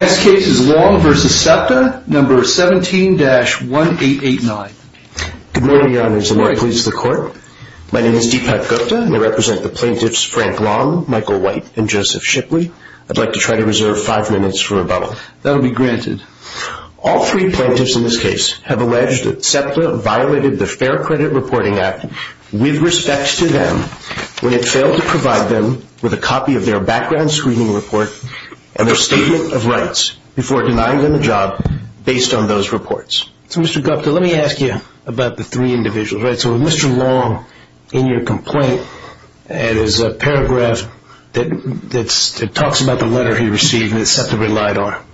This case is Long v. SEPTA, number 17-1889. Good morning, Your Honors. The Lord pleases the Court. My name is Deepak Gupta, and I represent the plaintiffs Frank Long, Michael White, and Joseph Shipley. I'd like to try to reserve five minutes for rebuttal. That will be granted. All three plaintiffs in this case have alleged that SEPTA violated the Fair Credit Reporting Act with respect to them when it failed to provide them with a copy of their background screening report and their statement of rights before denying them a job based on those reports. Mr. Gupta, let me ask you about the three individuals. With Mr. Long in your complaint, there's a paragraph that talks about the letter he received that SEPTA relied on.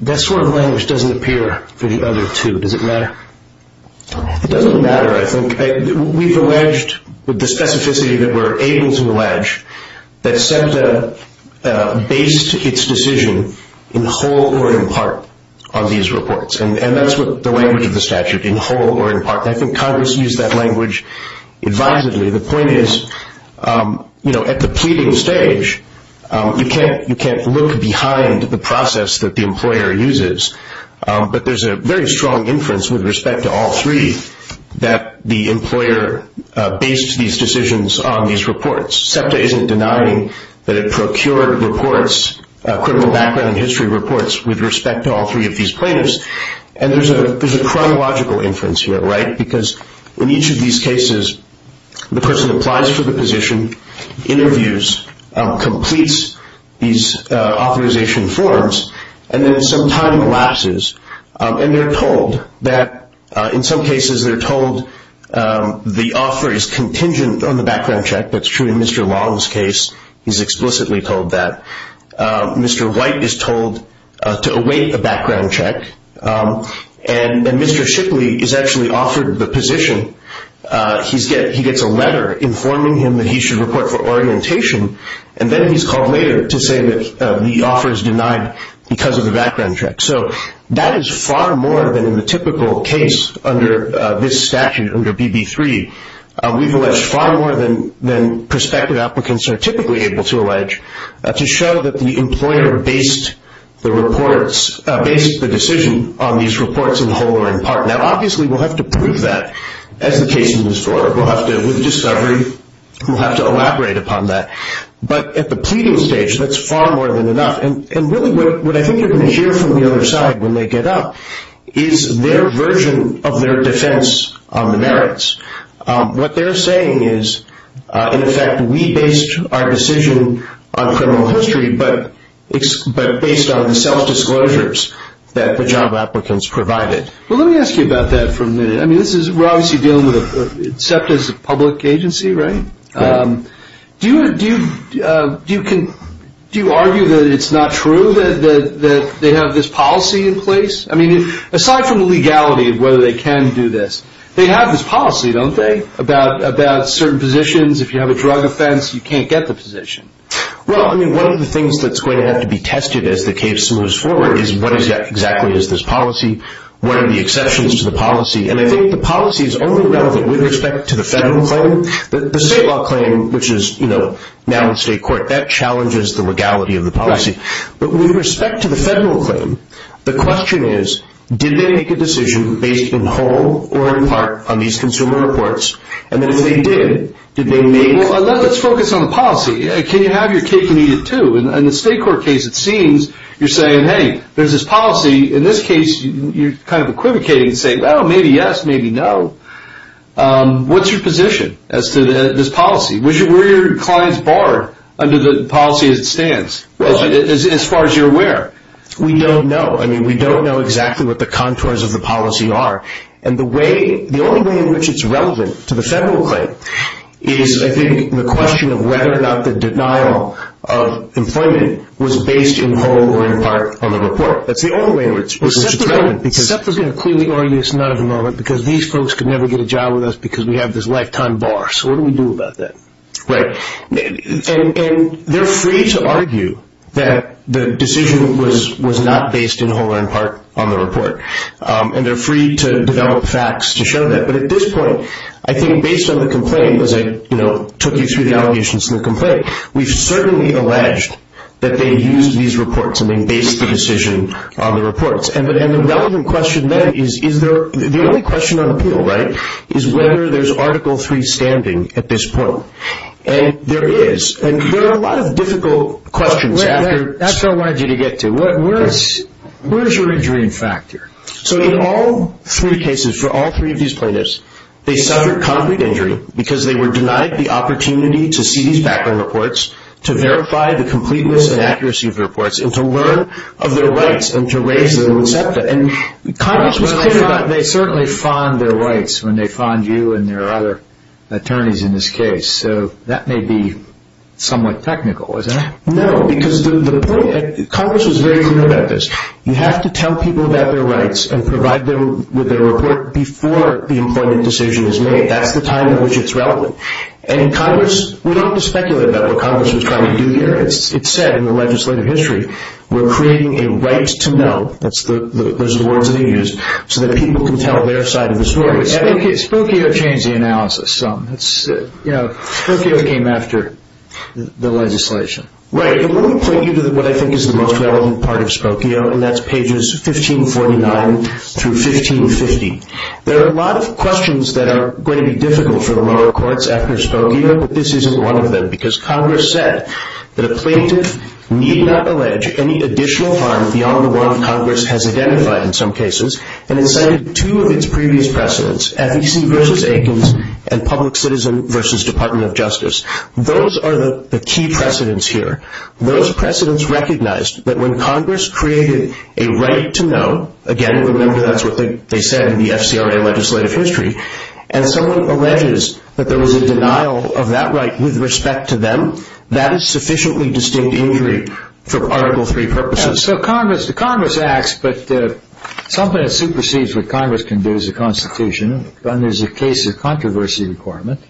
That sort of language doesn't appear for the other two. Does it matter? It doesn't matter, I think. We've alleged, with the specificity that we're able to allege, that SEPTA based its decision in whole or in part on these reports, and that's the language of the statute, in whole or in part. I think Congress used that language advisedly. The point is, at the pleading stage, you can't look behind the process that the employer uses, but there's a very strong inference with respect to all three that the employer based these decisions on these reports. SEPTA isn't denying that it procured reports, criminal background and history reports, with respect to all three of these plaintiffs. There's a chronological inference here, right? Because in each of these cases, the person applies for the position, interviews, completes these authorization forms, and then some time lapses, and they're told that, in some cases, they're told the offer is contingent on the background check. That's true in Mr. Long's case. He's explicitly told that. Mr. White is told to await a background check, and Mr. Shipley is actually offered the position. He gets a letter informing him that he should report for orientation, and then he's called later to say that the offer is denied because of the background check. So that is far more than in the typical case under this statute, under BB3. We've alleged far more than prospective applicants are typically able to allege, to show that the employer based the decision on these reports in whole or in part. Now, obviously, we'll have to prove that as the case is restored. We'll have to, with discovery, we'll have to elaborate upon that. But at the pleading stage, that's far more than enough. And really what I think you're going to hear from the other side when they get up is their version of their defense on the merits. What they're saying is, in effect, we based our decision on criminal history, but based on the self-disclosures that the job applicants provided. Well, let me ask you about that for a minute. I mean, we're obviously dealing with a public agency, right? Do you argue that it's not true that they have this policy in place? I mean, aside from the legality of whether they can do this, they have this policy, don't they, about certain positions? If you have a drug offense, you can't get the position. Well, I mean, one of the things that's going to have to be tested as the case moves forward is what exactly is this policy, what are the exceptions to the policy. And I think the policy is only relevant with respect to the federal claim. The state law claim, which is now in state court, that challenges the legality of the policy. But with respect to the federal claim, the question is, did they make a decision based in whole or in part on these consumer reports? And then if they did, did they make – Well, let's focus on the policy. Can you have your cake and eat it too? In the state court case, it seems you're saying, hey, there's this policy. In this case, you're kind of equivocating and saying, well, maybe yes, maybe no. What's your position as to this policy? Where do your clients bar under the policy as it stands, as far as you're aware? We don't know. I mean, we don't know exactly what the contours of the policy are. And the way – the only way in which it's relevant to the federal claim is, I think, the question of whether or not the denial of employment was based in whole or in part on the report. That's the only way in which it's relevant. SEPTA's going to clearly argue it's not in the moment because these folks could never get a job with us because we have this lifetime bar. So what do we do about that? Right. And they're free to argue that the decision was not based in whole or in part on the report. And they're free to develop facts to show that. But at this point, I think based on the complaint, as I took you through the allegations in the complaint, we've certainly alleged that they used these reports and they based the decision on the reports. And the relevant question then is, is there – the only question on appeal, right, is whether there's Article III standing at this point. And there is. And there are a lot of difficult questions after – That's what I wanted you to get to. Where's your injury factor? So in all three cases, for all three of these plaintiffs, they suffered concrete injury because they were denied the opportunity to see these background reports, to verify the completeness and accuracy of the reports, and to learn of their rights and to raise them in SEPTA. And Congress was clear about they certainly fond their rights when they fond you and their other attorneys in this case. So that may be somewhat technical, isn't it? No, because the point – Congress was very clear about this. You have to tell people about their rights and provide them with a report before the employment decision is made. That's the time in which it's relevant. And Congress – we don't have to speculate about what Congress was trying to do here. It's said in the legislative history, we're creating a right to know – those are the words that he used – so that people can tell their side of the story. Spokio changed the analysis. Spokio came after the legislation. Right. And let me point you to what I think is the most relevant part of Spokio, and that's pages 1549 through 1550. There are a lot of questions that are going to be difficult for the lower courts after Spokio, but this isn't one of them because Congress said that a plaintiff need not allege any additional harm beyond the one Congress has identified in some cases, and it cited two of its previous precedents, FEC v. Aikens and Public Citizen v. Department of Justice. Those are the key precedents here. Those precedents recognized that when Congress created a right to know – again, remember that's what they said in the FCRA legislative history – and someone alleges that there was a denial of that right with respect to them, that is sufficiently distinct injury for Article III purposes. So Congress acts, but something that supersedes what Congress can do is a constitution, and there's a case of controversy requirement,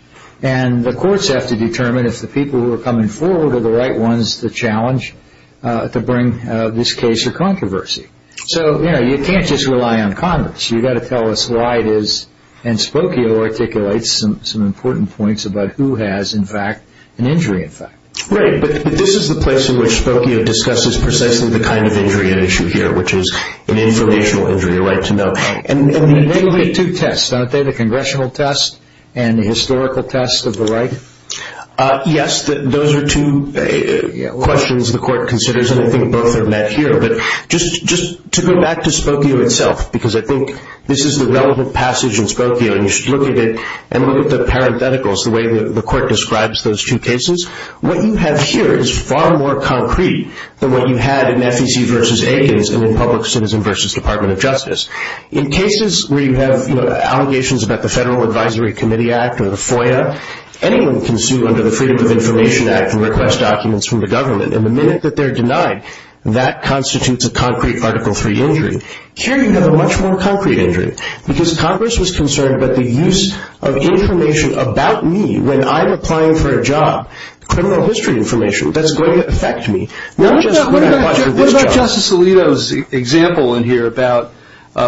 and the courts have to determine if the people who are coming forward are the right ones to challenge, to bring this case to controversy. So, you know, you can't just rely on Congress. You've got to tell us why it is, and Spokio articulates some important points about who has, in fact, an injury effect. Right, but this is the place in which Spokio discusses precisely the kind of injury at issue here, which is an informational injury, a right to know. And they look at two tests, don't they, the congressional test and the historical test of the right? Yes, those are two questions the court considers, and I think both are met here. But just to go back to Spokio itself, because I think this is the relevant passage in Spokio, and you should look at it and look at the parentheticals, the way the court describes those two cases. What you have here is far more concrete than what you had in FEC v. Aikens and in Public Citizen v. Department of Justice. In cases where you have allegations about the Federal Advisory Committee Act or the FOIA, anyone can sue under the Freedom of Information Act and request documents from the government, and the minute that they're denied, that constitutes a concrete Article III injury. Here you have a much more concrete injury, because Congress was concerned about the use of information about me when I'm applying for a job, criminal history information, that's going to affect me. What about Justice Alito's example in here about,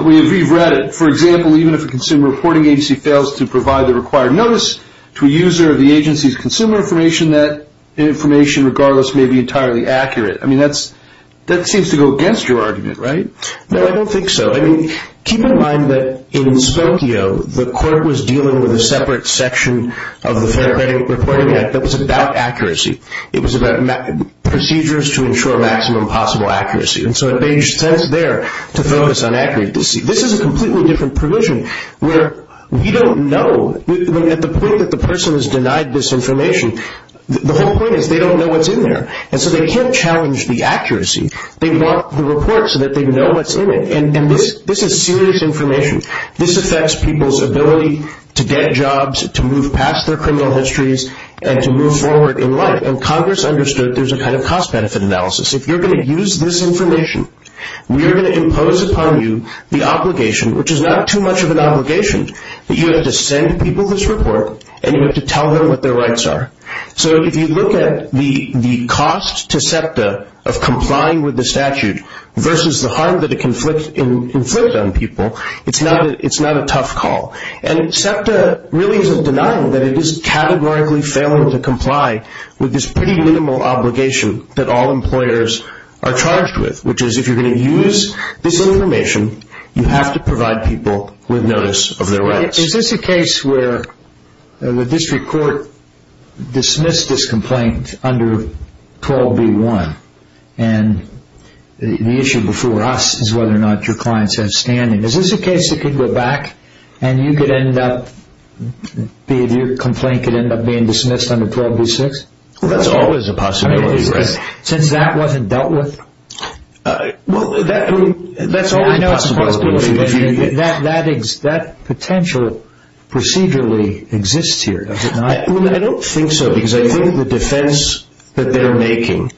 we've read it, for example, even if a consumer reporting agency fails to provide the required notice to a user of the agency's consumer information, that information, regardless, may be entirely accurate. I mean, that seems to go against your argument, right? No, I don't think so. I mean, keep in mind that in Spokio, the court was dealing with a separate section of the Federal Reporting Act that was about accuracy. It was about procedures to ensure maximum possible accuracy, and so it made sense there to focus on accuracy. This is a completely different provision where we don't know. At the point that the person is denied this information, the whole point is they don't know what's in there, and so they can't challenge the accuracy. They want the report so that they know what's in it, and this is serious information. This affects people's ability to get jobs, to move past their criminal histories, and to move forward in life, and Congress understood there's a kind of cost-benefit analysis. If you're going to use this information, we are going to impose upon you the obligation, which is not too much of an obligation, that you have to send people this report and you have to tell them what their rights are. So if you look at the cost to SEPTA of complying with the statute versus the harm that it inflicts on people, it's not a tough call, and SEPTA really isn't denying that it is categorically failing to comply with this pretty minimal obligation that all employers are charged with, which is if you're going to use this information, you have to provide people with notice of their rights. Is this a case where the district court dismissed this complaint under 12b-1, and the issue before us is whether or not your clients have standing? Is this a case that could go back and your complaint could end up being dismissed under 12b-6? That's always a possibility, right? Since that wasn't dealt with? That's always a possibility. I know it's a possibility, but that potential procedurally exists here, does it not? I don't think so, because I think the defense that they're making,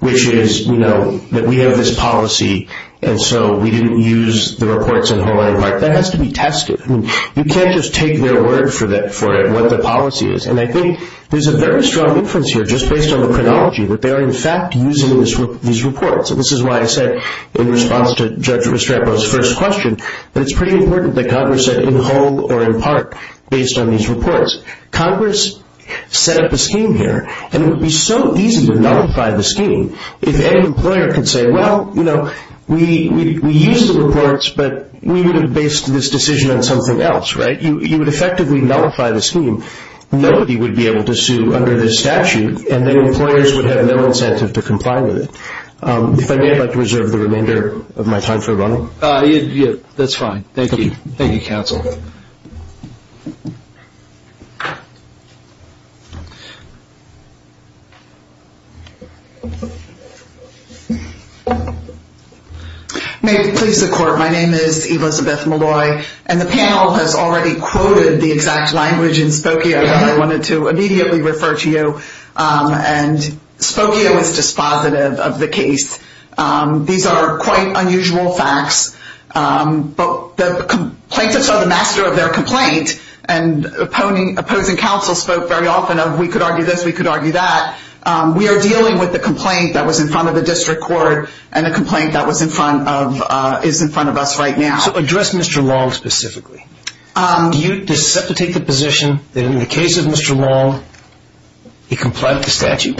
which is that we have this policy and so we didn't use the reports in whole or in part, that has to be tested. You can't just take their word for it, what the policy is, and I think there's a very strong inference here just based on the chronology that they are in fact using these reports. This is why I said in response to Judge Restrepo's first question that it's pretty important that Congress said in whole or in part based on these reports. Congress set up a scheme here, and it would be so easy to nullify the scheme if any employer could say, well, you know, we used the reports, but we would have based this decision on something else, right? You would effectively nullify the scheme. Nobody would be able to sue under this statute, and then employers would have no incentive to comply with it. If I may, I'd like to reserve the remainder of my time for a run-up. That's fine. Thank you. Thank you, counsel. May it please the Court, my name is Elizabeth Malloy, and the panel has already quoted the exact language in Spokio that I wanted to immediately refer to you, and Spokio is dispositive of the case. These are quite unusual facts, but the plaintiffs are the master of their complaint, and opposing counsel spoke very often of we could argue this, we could argue that. We are dealing with a complaint that was in front of the district court and a complaint that is in front of us right now. So address Mr. Long specifically. Do you dissipate the position that in the case of Mr. Long, he complied with the statute?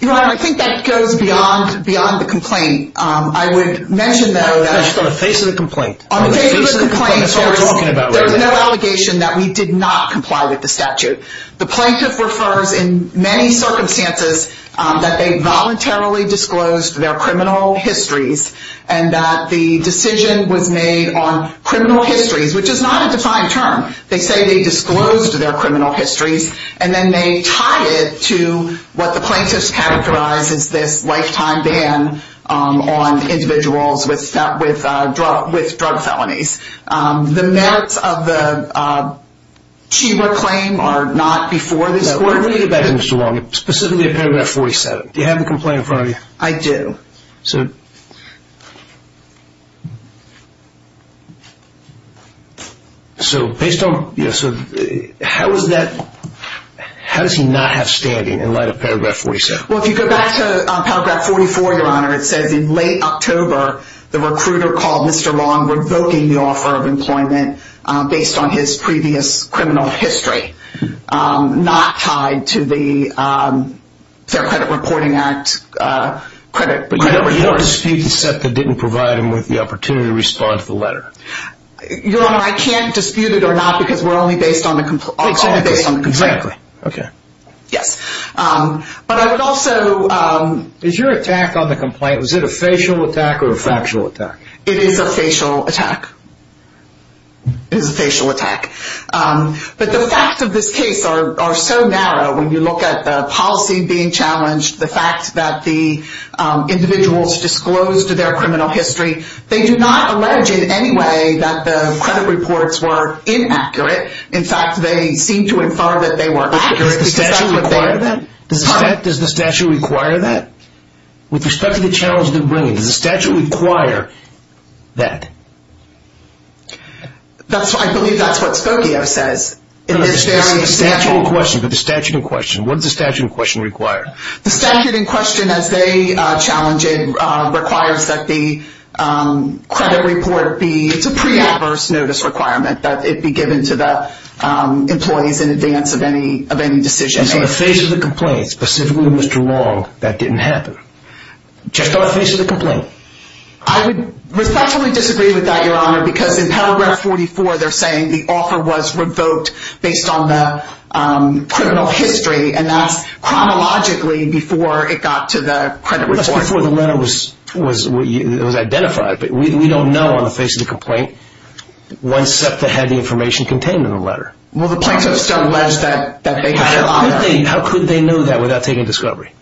Your Honor, I think that goes beyond the complaint. I would mention, though, that... On the face of the complaint. On the face of the complaint, there is no allegation that we did not comply with the statute. The plaintiff refers in many circumstances that they voluntarily disclosed their criminal histories, and that the decision was made on criminal histories, which is not a defined term. They say they disclosed their criminal histories, and then they tie it to what the plaintiffs characterize as this lifetime ban on individuals with drug felonies. The merits of the Chima claim are not before this court. Let me go back to Mr. Long, specifically paragraph 47. Do you have the complaint in front of you? I do. So... So based on... How is that... How does he not have standing in light of paragraph 47? Well, if you go back to paragraph 44, Your Honor, it says in late October, the recruiter called Mr. Long revoking the offer of employment based on his previous criminal history, not tied to the Fair Credit Reporting Act. But you don't dispute the set that didn't provide him with the opportunity to respond to the letter? Your Honor, I can't dispute it or not because we're only based on the complaint. Okay. Yes. But I would also... Is your attack on the complaint, was it a facial attack or a factual attack? It is a facial attack. It is a facial attack. But the facts of this case are so narrow. When you look at the policy being challenged, the fact that the individuals disclosed their criminal history, they do not allege in any way that the credit reports were inaccurate. In fact, they seem to infer that they were accurate. Does the statute require that? Does the statute require that? With respect to the challenge they're bringing, does the statute require that? I believe that's what Spokio says. The statute in question. The statute in question. What does the statute in question require? The statute in question, as they challenge it, requires that the credit report be, it's a pre-adverse notice requirement, that it be given to the employees in advance of any decision. In the face of the complaint, specifically Mr. Long, that didn't happen? Just on the face of the complaint? I would respectfully disagree with that, Your Honor, because in paragraph 44, they're saying the offer was revoked based on the criminal history, and that's chronologically before it got to the credit report. That's before the letter was identified. But we don't know on the face of the complaint when SEPTA had the information contained in the letter. Well, the plaintiffs don't allege that they had the offer. How could they know that without taking a discovery?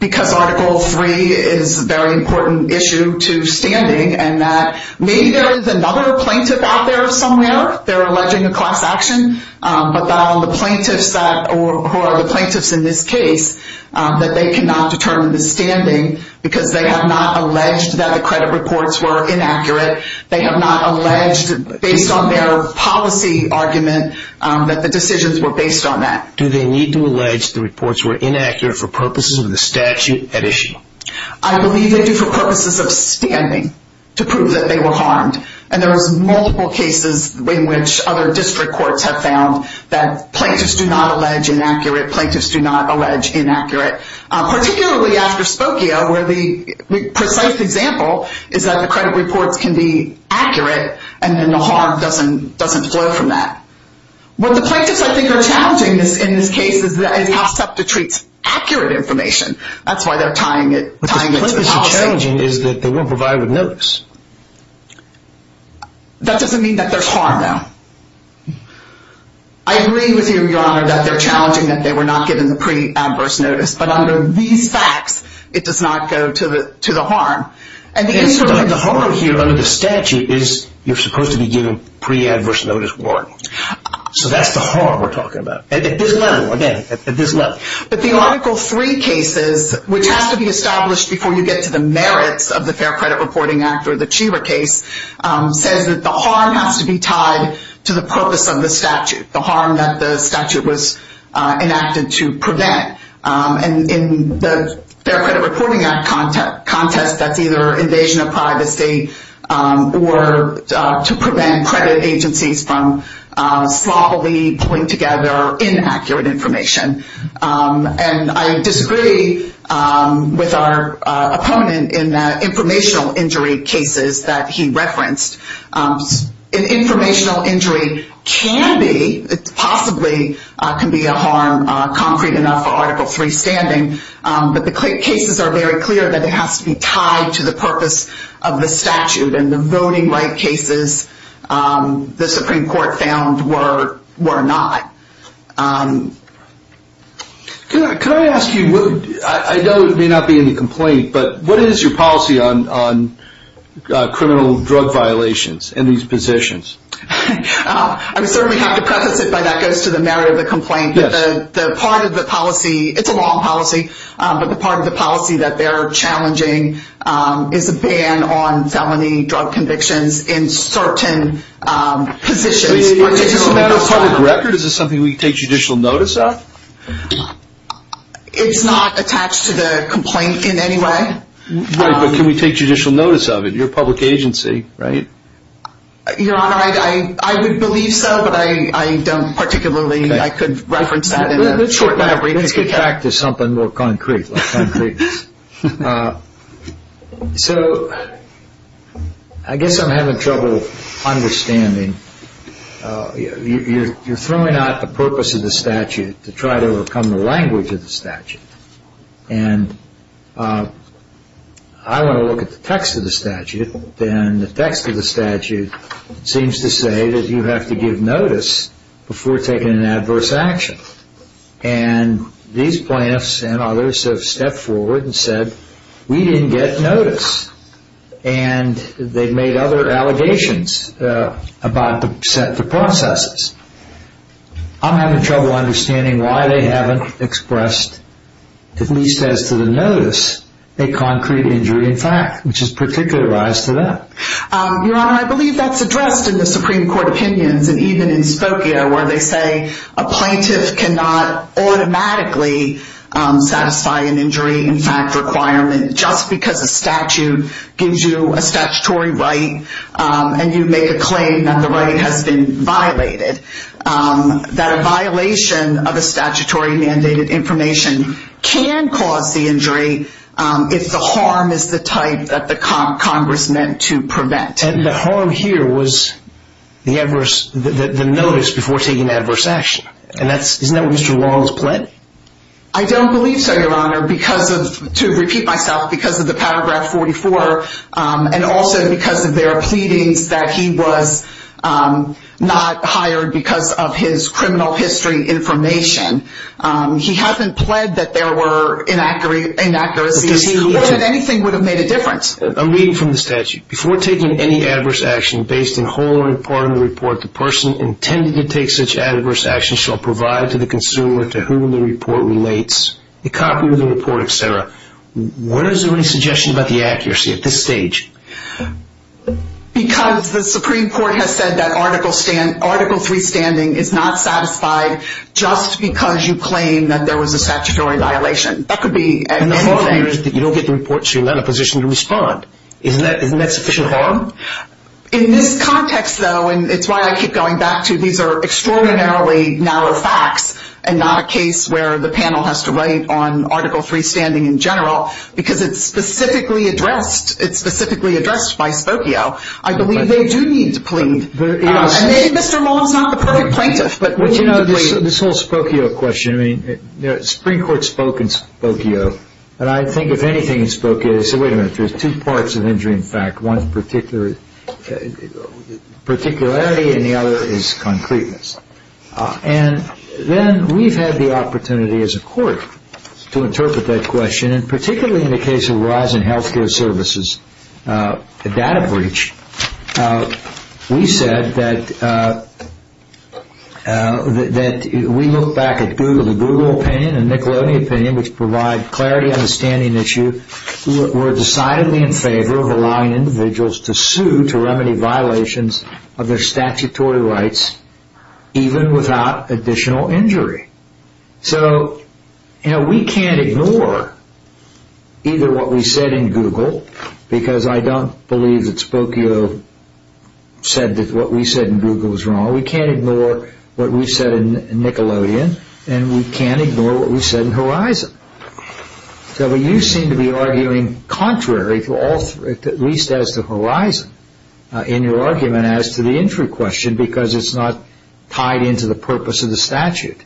Because Article III is a very important issue to standing, and that maybe there is another plaintiff out there somewhere, they're alleging a class action, but that on the plaintiff's side, or who are the plaintiffs in this case, that they cannot determine the standing because they have not alleged that the credit reports were inaccurate. They have not alleged, based on their policy argument, that the decisions were based on that. Do they need to allege the reports were inaccurate for purposes of the statute at issue? I believe they do for purposes of standing to prove that they were harmed, and there was multiple cases in which other district courts have found that plaintiffs do not allege inaccurate, plaintiffs do not allege inaccurate, particularly after Spokio, where the precise example is that the credit reports can be accurate, and then the harm doesn't flow from that. What the plaintiffs, I think, are challenging in this case is how SEPTA treats accurate information. That's why they're tying it to the policy. What the plaintiffs are challenging is that they weren't provided with notice. That doesn't mean that there's harm, though. I agree with you, Your Honor, that they're challenging that they were not given the pre-adverse notice, but under these facts, it does not go to the harm. The harm here under the statute is you're supposed to be given pre-adverse notice warning. So that's the harm we're talking about, at this level, again, at this level. But the Article 3 cases, which has to be established before you get to the merits of the Fair Credit Reporting Act or the Cheever case, says that the harm has to be tied to the purpose of the statute, the harm that the statute was enacted to prevent. In the Fair Credit Reporting Act context, that's either invasion of privacy or to prevent credit agencies from sloppily pulling together inaccurate information. And I disagree with our opponent in the informational injury cases that he referenced. An informational injury can be, possibly can be a harm, concrete enough for Article 3 standing, but the cases are very clear that it has to be tied to the purpose of the statute and the voting right cases the Supreme Court found were not. Can I ask you, I know it may not be in the complaint, but what is your policy on criminal drug violations in these positions? I certainly have to preface it by that goes to the merit of the complaint. The part of the policy, it's a long policy, but the part of the policy that they're challenging is a ban on felony drug convictions in certain positions. Is this a matter of public record? Is this something we can take judicial notice of? It's not attached to the complaint in any way. Right, but can we take judicial notice of it? You're a public agency, right? Your Honor, I would believe so, but I don't particularly. I could reference that in a short amount of time. Let's get back to something more concrete. So I guess I'm having trouble understanding. You're throwing out the purpose of the statute to try to overcome the language of the statute, and I want to look at the text of the statute, and the text of the statute seems to say that you have to give notice before taking an adverse action, and these plaintiffs and others have stepped forward and said, we didn't get notice, and they've made other allegations about the set of processes. I'm having trouble understanding why they haven't expressed, at least as to the notice, a concrete injury in fact, which is particularized to that. Your Honor, I believe that's addressed in the Supreme Court opinions, and even in Spokio, where they say a plaintiff cannot automatically satisfy an injury in fact requirement, just because a statute gives you a statutory right, and you make a claim that the right has been violated. That a violation of a statutory mandated information can cause the injury, if the harm is the type that the Congress meant to prevent. The harm here was the notice before taking an adverse action, and isn't that what Mr. Long has pled? I don't believe so, Your Honor, to repeat myself, because of the paragraph 44, and also because of their pleadings that he was not hired because of his criminal history information. He hasn't pled that there were inaccuracies, or that anything would have made a difference. I'm reading from the statute. Before taking any adverse action based on whole or part of the report, the person intended to take such adverse action shall provide to the consumer to whom the report relates, a copy of the report, etc. Where is there any suggestion about the accuracy at this stage? Because the Supreme Court has said that Article 3 standing is not satisfied, just because you claim that there was a statutory violation. And the harm here is that you don't get the report, so you're not in a position to respond. Isn't that sufficient harm? In this context, though, and it's why I keep going back to these are extraordinarily narrow facts, and not a case where the panel has to write on Article 3 standing in general, because it's specifically addressed by Spokio. I believe they do need to plead. And maybe Mr. Long is not the perfect plaintiff, but we do need to plead. This whole Spokio question, I mean, the Supreme Court spoke in Spokio, and I think if anything in Spokio they said, wait a minute, there's two parts of injury in fact. One is particularity and the other is concreteness. And then we've had the opportunity as a court to interpret that question, and particularly in the case of Verizon Healthcare Services, the data breach, we said that we look back at Google. The Google opinion and Nickelodeon opinion, which provide clarity on the standing issue, were decidedly in favor of allowing individuals to sue to remedy violations of their statutory rights, even without additional injury. So, you know, we can't ignore either what we said in Google, because I don't believe that Spokio said that what we said in Google was wrong. We can't ignore what we said in Nickelodeon, and we can't ignore what we said in Verizon. So you seem to be arguing contrary to all, at least as to Verizon, in your argument, and as to the injury question, because it's not tied into the purpose of the statute.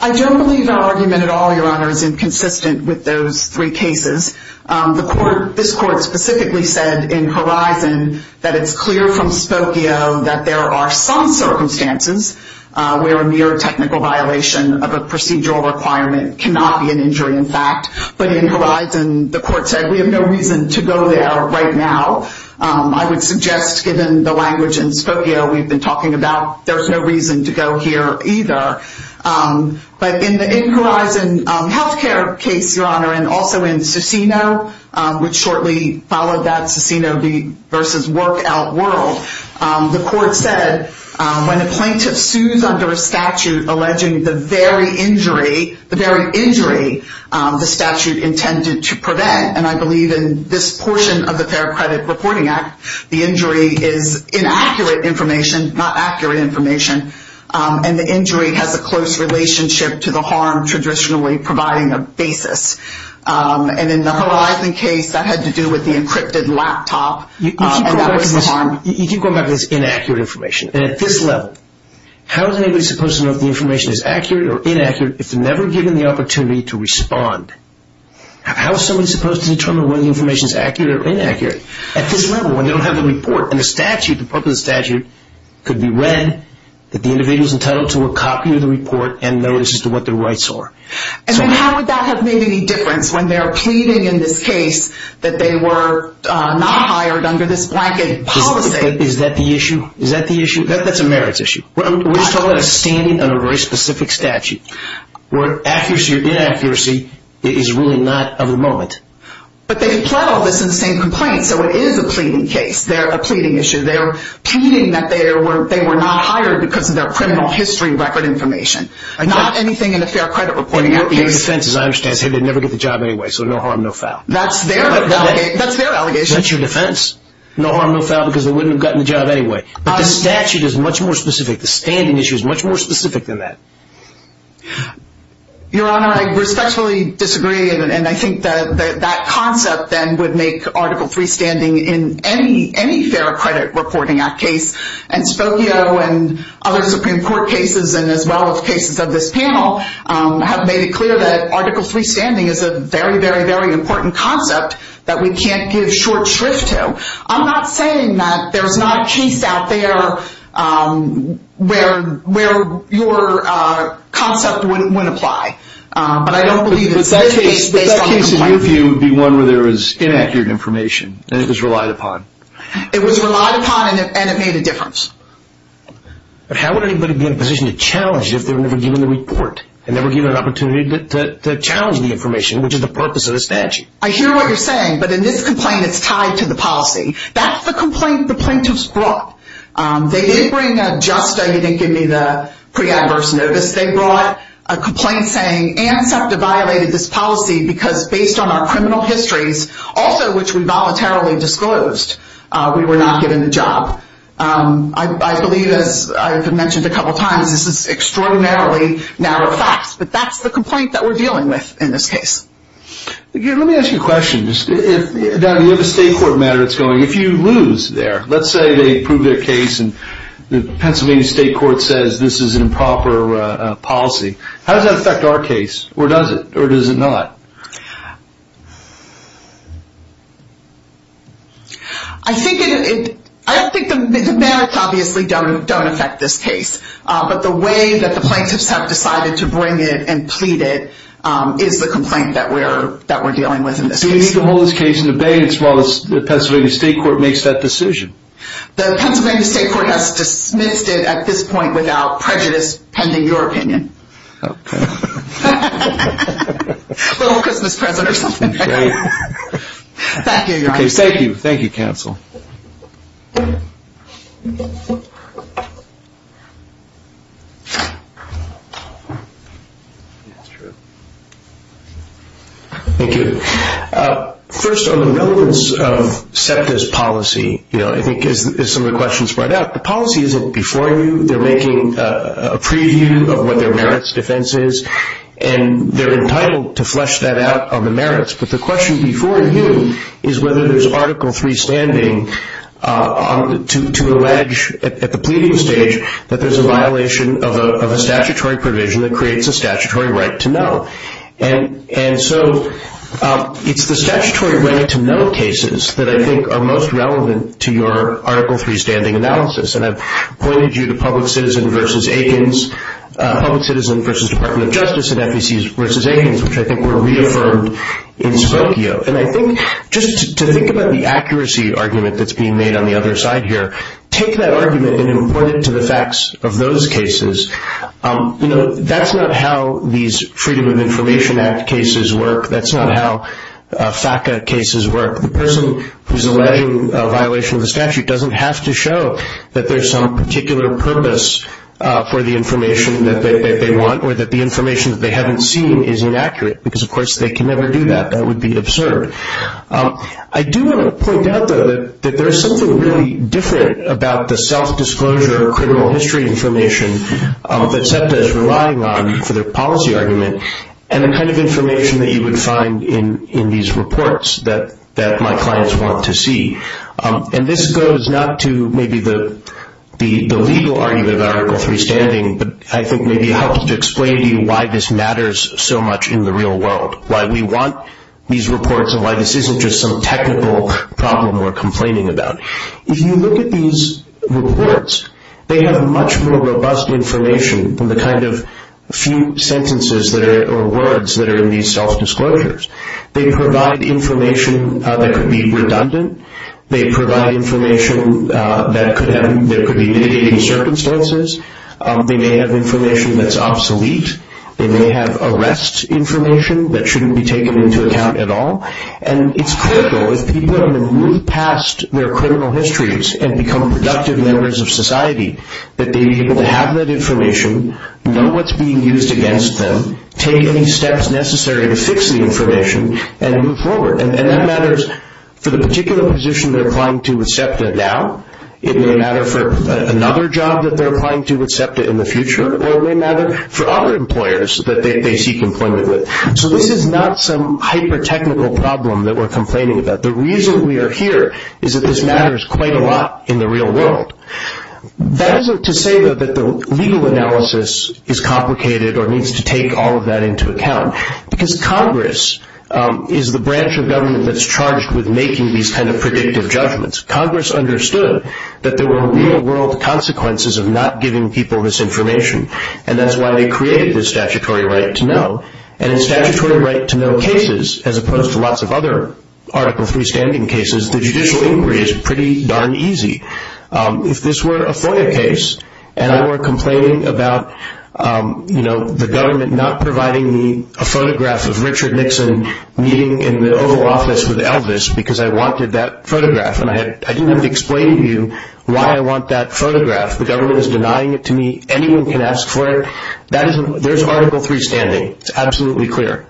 I don't believe our argument at all, Your Honor, is inconsistent with those three cases. This court specifically said in Verizon that it's clear from Spokio that there are some circumstances where a mere technical violation of a procedural requirement cannot be an injury in fact, but in Verizon the court said we have no reason to go there right now. I would suggest, given the language in Spokio we've been talking about, there's no reason to go here either. But in the Verizon healthcare case, Your Honor, and also in Cicino, which shortly followed that Cicino v. Workout World, the court said when a plaintiff sues under a statute alleging the very injury, the very injury the statute intended to prevent, and I believe in this portion of the Fair Credit Reporting Act, the injury is inaccurate information, not accurate information, and the injury has a close relationship to the harm traditionally providing a basis. And in the Verizon case, that had to do with the encrypted laptop, and that was the harm. You keep going back to this inaccurate information. And at this level, how is anybody supposed to know if the information is accurate or inaccurate if they're never given the opportunity to respond? How is somebody supposed to determine whether the information is accurate or inaccurate? At this level, when they don't have the report and the statute, the purpose of the statute, could be read that the individual is entitled to a copy of the report and notice as to what their rights are. And how would that have made any difference when they're pleading in this case that they were not hired under this blanket policy? Is that the issue? Is that the issue? That's a merits issue. We're talking about a standing under a very specific statute where accuracy or inaccuracy is really not of the moment. But they can plot all this in the same complaint, so it is a pleading case. They're a pleading issue. They're pleading that they were not hired because of their criminal history record information, not anything in the Fair Credit Reporting Act. Their defense, as I understand, is hey, they'd never get the job anyway, so no harm, no foul. That's their allegation. That's your defense. No harm, no foul because they wouldn't have gotten the job anyway. But the statute is much more specific. The standing issue is much more specific than that. Your Honor, I respectfully disagree. And I think that concept then would make Article III standing in any Fair Credit Reporting Act case. And Spokio and other Supreme Court cases and as well as cases of this panel have made it clear that Article III standing is a very, very, very important concept that we can't give short shrift to. I'm not saying that there's not a case out there where your concept wouldn't apply. But I don't believe it's a case based on a complaint. But that case, in your view, would be one where there was inaccurate information and it was relied upon. It was relied upon and it made a difference. But how would anybody be in a position to challenge it if they were never given the report and never given an opportunity to challenge the information, which is the purpose of the statute? I hear what you're saying. But in this complaint, it's tied to the policy. That's the complaint the plaintiffs brought. They did bring a justa. You didn't give me the preadverse notice. They brought a complaint saying ANSAFDA violated this policy because based on our criminal histories, also which we voluntarily disclosed, we were not given the job. I believe, as I've mentioned a couple times, this is extraordinarily narrow facts. But that's the complaint that we're dealing with in this case. Let me ask you a question. You have a state court matter that's going. If you lose there, let's say they prove their case and the Pennsylvania State Court says this is an improper policy. How does that affect our case, or does it, or does it not? I think the merits obviously don't affect this case. But the way that the plaintiffs have decided to bring it and plead it is the complaint that we're dealing with in this case. So you can hold this case in the bay as well as the Pennsylvania State Court makes that decision? The Pennsylvania State Court has dismissed it at this point without prejudice pending your opinion. Okay. A little Christmas present or something. Great. Thank you, Your Honor. Okay, thank you. Thank you, counsel. That's true. Thank you. First, on the relevance of SEPTA's policy, you know, I think as some of the questions spread out, the policy isn't before you. They're making a preview of what their merits defense is, and they're entitled to flesh that out on the merits. But the question before you is whether there's Article III standing to allege at the pleading stage that there's a violation of a statutory provision that creates a statutory right to know. And so it's the statutory right to know cases that I think are most relevant to your Article III standing analysis. And I've pointed you to Public Citizen v. Aikens, Public Citizen v. Department of Justice and FECs v. Aikens, which I think were reaffirmed in Spokio. And I think just to think about the accuracy argument that's being made on the other side here, take that argument and then point it to the facts of those cases. You know, that's not how these Freedom of Information Act cases work. That's not how FACA cases work. The person who's alleging a violation of the statute doesn't have to show that there's some particular purpose for the information that they want or that the information that they haven't seen is inaccurate, because, of course, they can never do that. That would be absurd. I do want to point out, though, that there is something really different about the self-disclosure or criminal history information that SEPTA is relying on for their policy argument and the kind of information that you would find in these reports that my clients want to see. And this goes not to maybe the legal argument of Article III standing, but I think maybe it helps to explain to you why this matters so much in the real world, why we want these reports and why this isn't just some technical problem we're complaining about. If you look at these reports, they have much more robust information than the kind of few sentences or words that are in these self-disclosures. They provide information that could be redundant. They provide information that could be mitigating circumstances. They may have information that's obsolete. They may have arrest information that shouldn't be taken into account at all. And it's critical, if people are going to move past their criminal histories and become productive members of society, that they be able to have that information, know what's being used against them, take any steps necessary to fix the information, and move forward. And that matters for the particular position they're applying to with SEPTA now. It may matter for another job that they're applying to with SEPTA in the future. It may matter for other employers that they seek employment with. So this is not some hyper-technical problem that we're complaining about. The reason we are here is that this matters quite a lot in the real world. That isn't to say, though, that the legal analysis is complicated or needs to take all of that into account, because Congress is the branch of government that's charged with making these kind of predictive judgments. Congress understood that there were real-world consequences of not giving people this information, and that's why they created this statutory right to know. And in statutory right to know cases, as opposed to lots of other Article III standing cases, the judicial inquiry is pretty darn easy. If this were a FOIA case and I were complaining about the government not providing me a photograph of Richard Nixon meeting in the Oval Office with Elvis because I wanted that photograph, and I didn't have to explain to you why I want that photograph. The government is denying it to me. Anyone can ask for it. There's Article III standing. It's absolutely clear.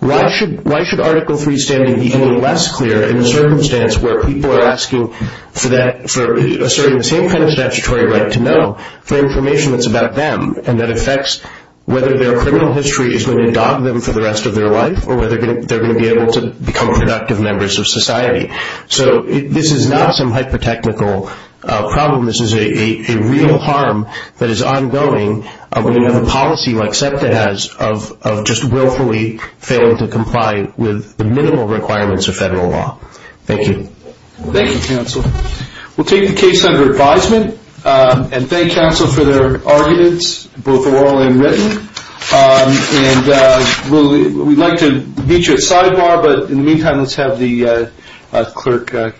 Why should Article III standing be any less clear in a circumstance where people are asking for that, for asserting the same kind of statutory right to know for information that's about them, and that affects whether their criminal history is going to dog them for the rest of their life or whether they're going to be able to become productive members of society. So this is not some hyper-technical problem. This is a real harm that is ongoing when you have a policy like SEPTA has of just willfully failing to comply with the minimal requirements of federal law. Thank you. Thank you, counsel. We'll take the case under advisement and thank counsel for their arguments, both oral and written. And we'd like to meet you at sidebar, but in the meantime, let's have the clerk.